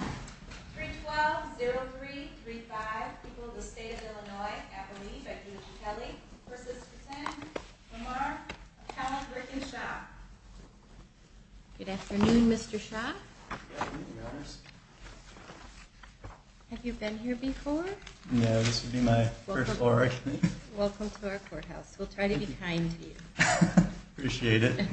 312-0335, people of the state of Illinois, Appalachia, I present to you Kelly v. Patten v. Marrar, appellant Rick and Shaw. Good afternoon, Mr. Shaw. Good afternoon, Your Honors. Have you been here before? No, this will be my first floor. Welcome to our courthouse. We'll try to be kind to you. Appreciate it.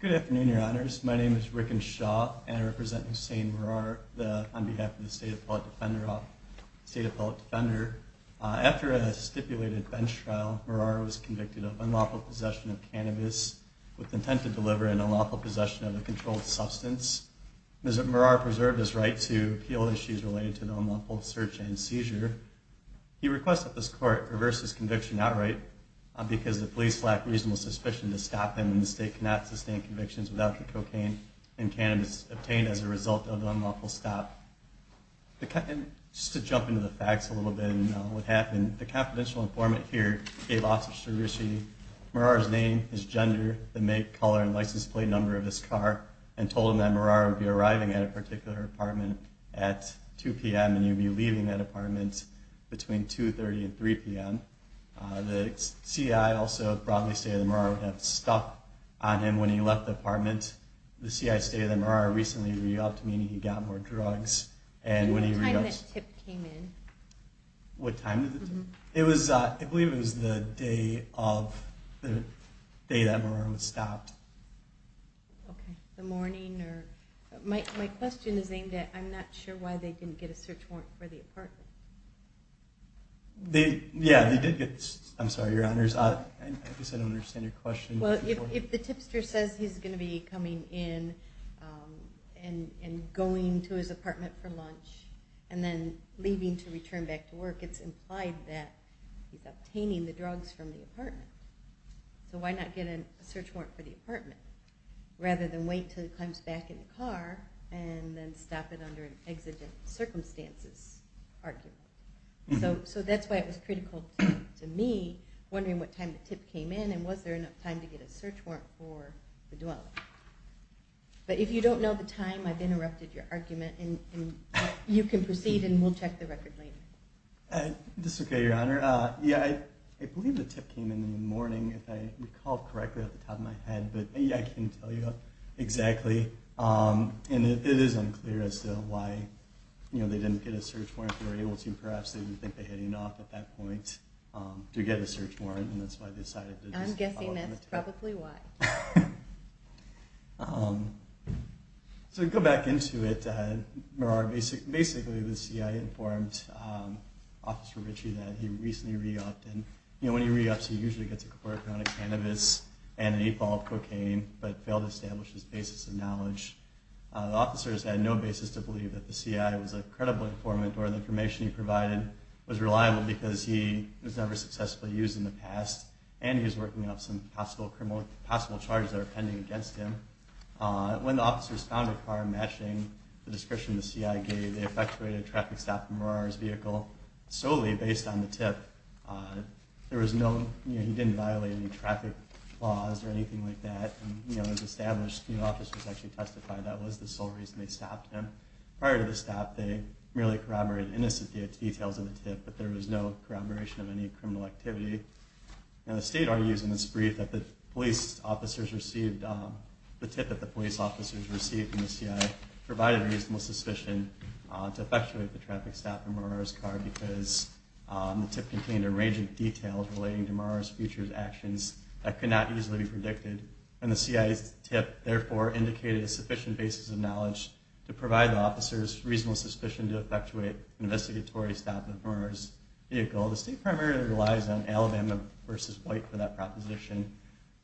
Good afternoon, Your Honors. My name is Rick and Shaw, and I represent Hussain Marrar on behalf of the State Appellate Defender. After a stipulated bench trial, Marrar was convicted of unlawful possession of cannabis with intent to deliver and unlawful possession of a controlled substance. Mr. Marrar preserved his right to appeal issues related to the unlawful search and seizure. He requests that this Court reverse his conviction outright because the police lack reasonable suspicion to stop him, and the State cannot sustain convictions without the cocaine and cannabis obtained as a result of the unlawful stop. Just to jump into the facts a little bit and what happened, the confidential informant here gave Officer Sririshi Marrar's name, his gender, the make, color, and license plate number of his car, and told him that Marrar would be arriving at a particular apartment at 2 p.m. and he would be leaving that apartment between 2.30 and 3 p.m. The C.I. also, broadly speaking, would have stuck on him when he left the apartment. The C.I. stated that Marrar recently re-upped, meaning he got more drugs. And what time did the tip come in? What time did the tip come in? I believe it was the day that Marrar stopped. Okay, the morning. My question is aimed at I'm not sure why they didn't get a search warrant for the apartment. Yeah, they did get a search warrant. I'm sorry, Your Honors, I guess I don't understand your question. Well, if the tipster says he's going to be coming in and going to his apartment for lunch and then leaving to return back to work, it's implied that he's obtaining the drugs from the apartment. So why not get a search warrant for the apartment rather than wait until he comes back in the car and then stop it under an exigent circumstances argument? So that's why it was critical to me wondering what time the tip came in and was there enough time to get a search warrant for the dwelling. But if you don't know the time, I've interrupted your argument. You can proceed and we'll check the record later. This is okay, Your Honor. Yeah, I believe the tip came in the morning if I recall correctly off the top of my head. But yeah, I can't tell you exactly. And it is unclear as to why they didn't get a search warrant. If they were able to, perhaps they didn't think they had enough at that point to get a search warrant. And that's why they decided to just follow up with it. I'm guessing that's probably why. So to go back into it, basically the CIA informed Officer Ritchie that he recently re-upped. And when he re-ups, he usually gets a quarter pound of cannabis and an eight ball of cocaine but failed to establish his basis of knowledge. The officers had no basis to believe that the CIA was a credible informant or the information he provided was reliable because he was never successfully used in the past and he was working up some possible charges that are pending against him. When the officers found a car matching the description the CIA gave, they effectuated a traffic stop for Murar's vehicle solely based on the tip. There was no, he didn't violate any traffic laws or anything like that. And it was established, the officers actually testified that was the sole reason they stopped him. Prior to the stop, they merely corroborated innocent details of the tip, but there was no corroboration of any criminal activity. And the state argues in this brief that the tip that the police officers received from the CIA provided a reasonable suspicion to effectuate the traffic stop in Murar's car because the tip contained a range of details relating to Murar's future actions that could not easily be predicted. And the CIA's tip therefore indicated a sufficient basis of knowledge to provide the officers reasonable suspicion to effectuate an investigatory stop at Murar's vehicle. The state primarily relies on Alabama versus White for that proposition.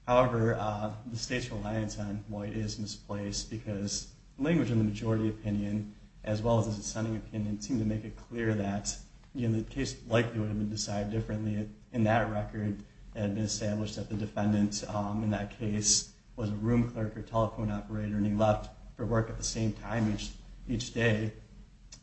However, the state's reliance on White is misplaced because language in the majority opinion, as well as the dissenting opinion, seem to make it clear that the case likely would have been decided differently in that record and established that the defendant in that case was a room clerk or telephone operator and he left for work at the same time each day.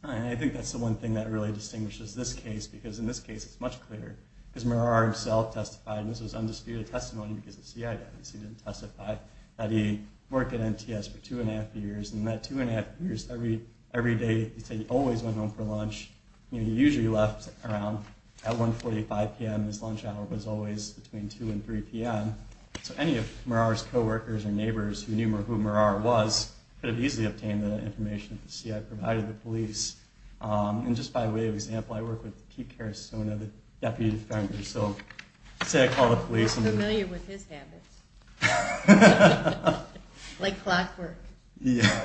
And I think that's the one thing that really distinguishes this case because in this case it's much clearer because Murar himself testified, and this was undisputed testimony because the CIA didn't testify, that he worked at NTS for two and a half years. And that two and a half years, every day he said he always went home for lunch. He usually left around at 145 p.m. His lunch hour was always between 2 and 3 p.m. So any of Murar's coworkers or neighbors who knew who Murar was could have easily obtained the information that the CIA provided the police. And just by way of example, I work with Pete Carasone, the deputy defender. So say I call the police. I'm familiar with his habits. Like clockwork.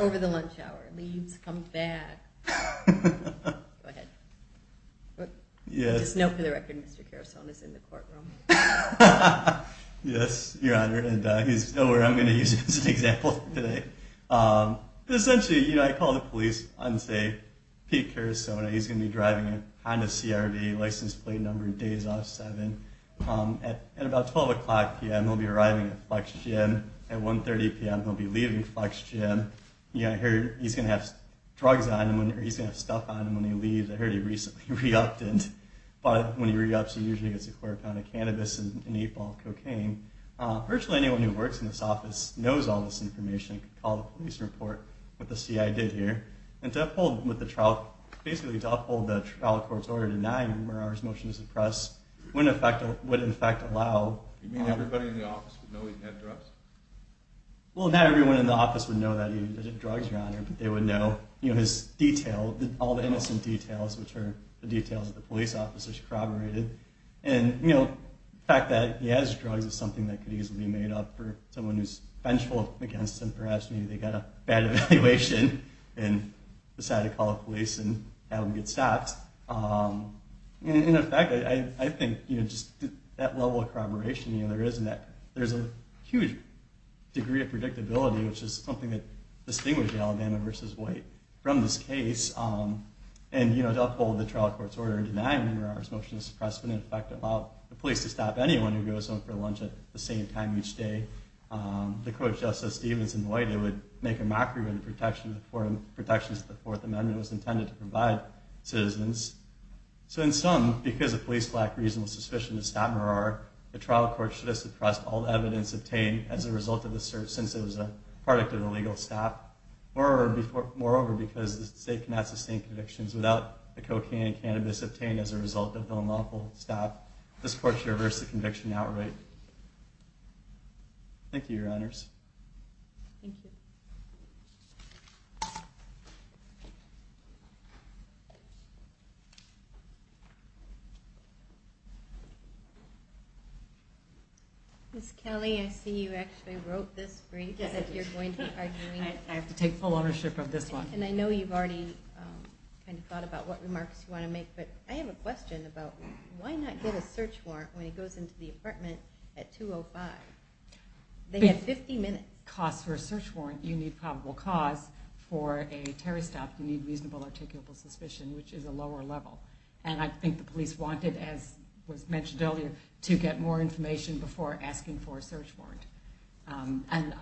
Over the lunch hour. Leaves, comes back. Go ahead. Just know for the record Mr. Carasone is in the courtroom. Yes, Your Honor. And he's nowhere I'm going to use as an example today. Essentially, I call the police on, say, Pete Carasone. He's going to be driving a Honda CRV, license plate number, days off, 7. At about 12 o'clock p.m. he'll be arriving at Flex Gym. At 1.30 p.m. he'll be leaving Flex Gym. I hear he's going to have drugs on him or he's going to have stuff on him when he leaves. I heard he recently re-upped it. But when he re-ups he usually gets a quarter pound of cannabis and an eight ball of cocaine. Virtually anyone who works in this office knows all this information. You can call the police and report what the CIA did here. And to uphold the trial court's order denying Murar's motion to suppress would in effect allow... You mean everybody in the office would know he had drugs? Well, not everyone in the office would know that he did drugs, Your Honor. But they would know his details, all the innocent details, which are the details that the police officers corroborated. And the fact that he has drugs is something that could easily be made up for someone who's vengeful against him. Perhaps maybe they got a bad evaluation and decided to call the police and have him get stopped. In effect, I think just that level of corroboration, there's a huge degree of predictability, which is something that distinguishes Alabama v. White from this case. And to uphold the trial court's order denying Murar's motion to suppress would in effect allow the police to stop anyone who goes home for lunch at the same time each day. The Co-Justice Stevens and White, they would make a mockery of the protections that the Fourth Amendment was intended to provide citizens. So in sum, because the police lack reasonable suspicion to stop Murar, the trial court should have suppressed all evidence obtained as a result of the search since it was a product of the legal staff. Moreover, because the state cannot sustain convictions without the cocaine and cannabis obtained as a result of the lawful staff, this court should reverse the conviction outright. Thank you, Your Honors. Thank you. Ms. Kelly, I see you actually wrote this brief and that you're going to be arguing it. I have to take full ownership of this one. And I know you've already kind of thought about what remarks you want to make, but I have a question about why not get a search warrant when he goes into the apartment at 2.05? They have 50 minutes. If it costs for a search warrant, you need probable cause for a terrorist attack and you need probable cause for a search warrant. First off, you need reasonable articulable suspicion, which is a lower level. And I think the police wanted, as was mentioned earlier, to get more information before asking for a search warrant. And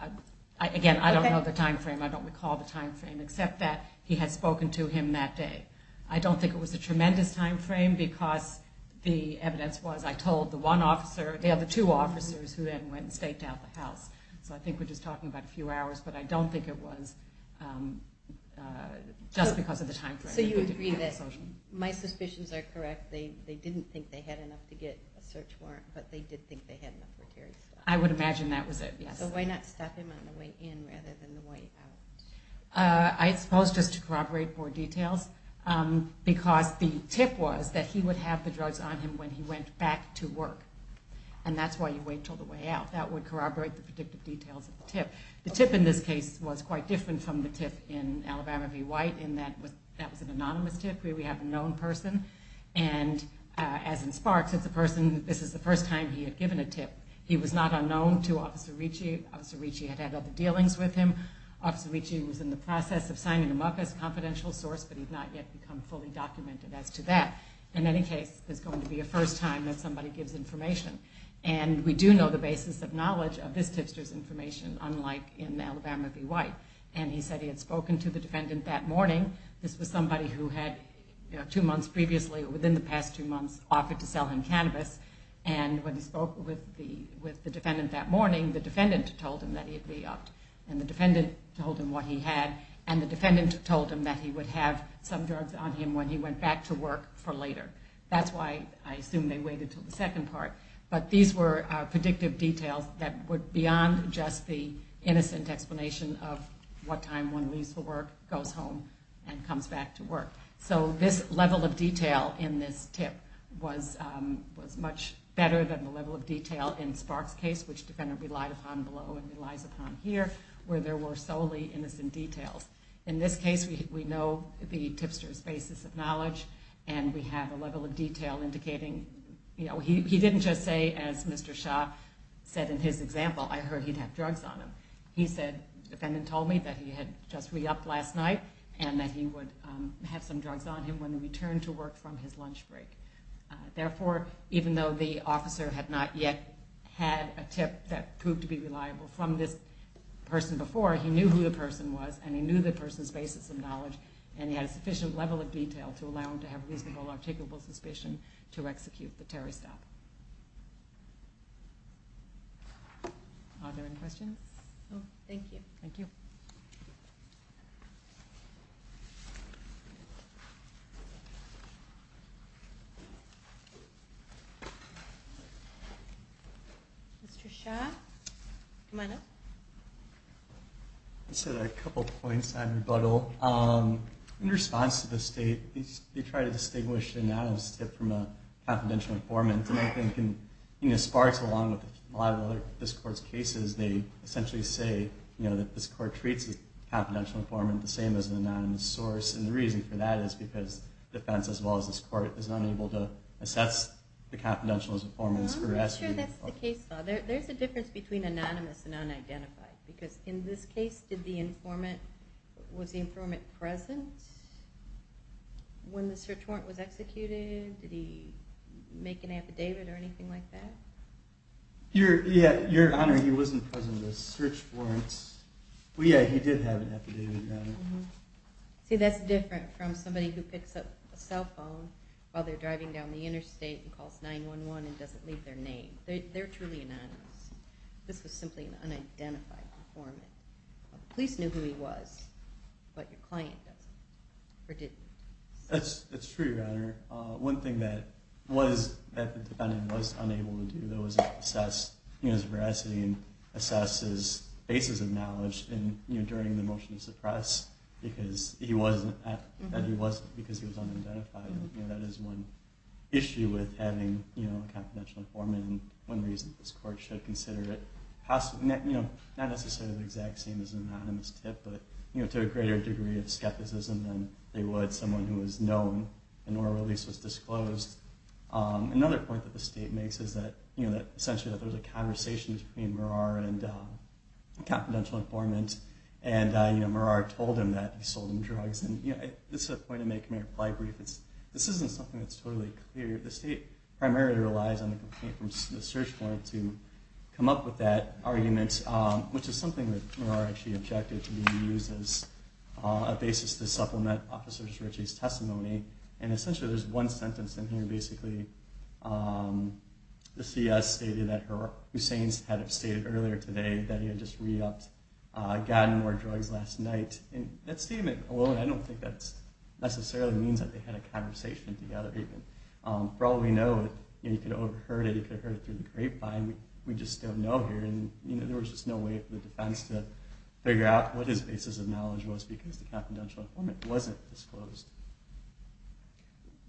again, I don't know the time frame. I don't recall the time frame except that he had spoken to him that day. I don't think it was a tremendous time frame because the evidence was I told the one officer or the other two officers who then went and staked out the house. So I think we're just talking about a few hours. But I don't think it was just because of the time frame. So you agree that my suspicions are correct. They didn't think they had enough to get a search warrant, but they did think they had enough for a terrorist attack. I would imagine that was it, yes. So why not stop him on the way in rather than the way out? I suppose just to corroborate more details, because the tip was that he would have the drugs on him when he went back to work. And that's why you wait until the way out. That would corroborate the predictive details at the tip. The tip in this case was quite different from the tip in Alabama v. White in that that was an anonymous tip where we have a known person. And as in Sparks, this is the first time he had given a tip. He was not unknown to Officer Ricci. Officer Ricci had had other dealings with him. Officer Ricci was in the process of signing him up as a confidential source, but he had not yet become fully documented as to that. In any case, this is going to be the first time that somebody gives information. And we do know the basis of knowledge of this tipster's information unlike in Alabama v. White. And he said he had spoken to the defendant that morning. This was somebody who had two months previously or within the past two months offered to sell him cannabis. And when he spoke with the defendant that morning, the defendant told him that he had re-upped. And the defendant told him what he had, and the defendant told him that he would have some drugs on him when he went back to work for later. That's why I assume they waited until the second part. But these were predictive details that were beyond just the innocent explanation of what time one leaves for work, goes home, and comes back to work. So this level of detail in this tip was much better than the level of detail in Spark's case, which the defendant relied upon below and relies upon here, where there were solely innocent details. In this case, we know the tipster's basis of knowledge, and we have a level of detail indicating, you know, he didn't just say, as Mr. Shah said in his example, I heard he'd have drugs on him. He said, the defendant told me that he had just re-upped last night and that he would have some drugs on him when he returned to work from his lunch break. Therefore, even though the officer had not yet had a tip that proved to be reliable from this person before, he knew who the person was, and he knew the person's basis of knowledge, and he had a sufficient level of detail to allow him to have reasonable articulable suspicion to execute the terrorist act. Are there any questions? No, thank you. Thank you. Mr. Shah, come on up. I just had a couple points on rebuttal. In response to the state, they try to distinguish an anonymous tip from a confidential informant, and I think it sparks along with a lot of this Court's cases. They essentially say, you know, that this Court treats a confidential informant the same as an anonymous source, and the reason for that is because defense, as well as this Court, is unable to assess the confidential informant's arrest. I'm not sure that's the case, though. There's a difference between anonymous and unidentified, because in this case, did the informant, was the informant present when the search warrant was executed? Did he make an affidavit or anything like that? Yeah, Your Honor, he wasn't present at the search warrants. Well, yeah, he did have an affidavit, Your Honor. See, that's different from somebody who picks up a cell phone while they're driving down the interstate and calls 911 and doesn't leave their name. They're truly anonymous. This was simply an unidentified informant. The police knew who he was, but your client doesn't, or didn't. That's true, Your Honor. One thing that the defendant was unable to do, though, was assess his veracity and assess his basis of knowledge during the motion to suppress, because he wasn't because he was unidentified. That is one issue with having a confidential informant, and one reason this Court should consider it. Not necessarily the exact same as an anonymous tip, but to a greater degree of skepticism than they would someone who was known, and or at least was disclosed. Another point that the State makes is that, essentially, there was a conversation between Murar and a confidential informant, and Murar told him that he sold him drugs. This is a point to make in my reply brief. This isn't something that's totally clear. The State primarily relies on the complaint from the search warrant to come up with that argument, which is something that Murar actually objected to being used as a basis to supplement Officer Cerici's testimony. Essentially, there's one sentence in here, basically. The CS stated that Hussein had stated earlier today that he had just re-upped, gotten more drugs last night. That statement alone, I don't think that necessarily means that they had a conversation together, even. For all we know, you could have overheard it, you could have heard it through the grapevine. We just don't know here, and there was just no way for the defense to figure out what his basis of knowledge was because the confidential informant wasn't disclosed.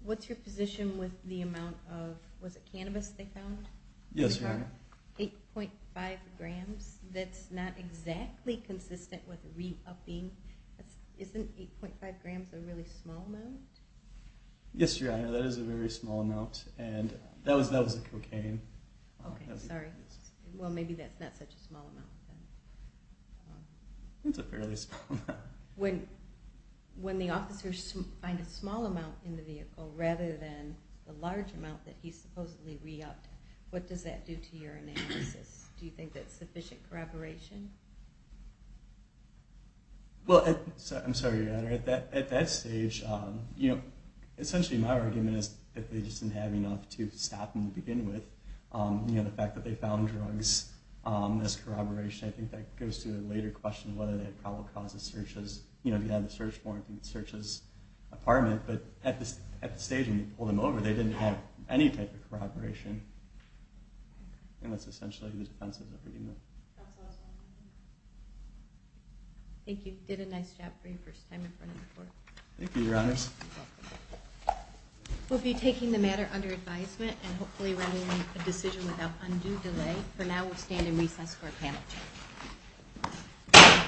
What's your position with the amount of, was it cannabis they found? Yes, Your Honor. 8.5 grams. That's not exactly consistent with re-upping. Isn't 8.5 grams a really small amount? Yes, Your Honor, that is a very small amount, and that was cocaine. Okay, sorry. Well, maybe that's not such a small amount. It's a fairly small amount. When the officers find a small amount in the vehicle rather than the large amount that he supposedly re-upped, what does that do to your analysis? Do you think that's sufficient corroboration? I'm sorry, Your Honor. At that stage, essentially my argument is that they just didn't have enough to stop him to begin with. The fact that they found drugs as corroboration, I think that goes to a later question of whether that probably causes searches. If you have the search warrant, you can search his apartment, but at the stage when you pull them over, they didn't have any type of corroboration, and that's essentially the defense's argument. Thank you. You did a nice job for your first time in front of the court. Thank you, Your Honors. We'll be taking the matter under advisement and hopefully running a decision without undue delay. For now, we'll stand in recess for our panel.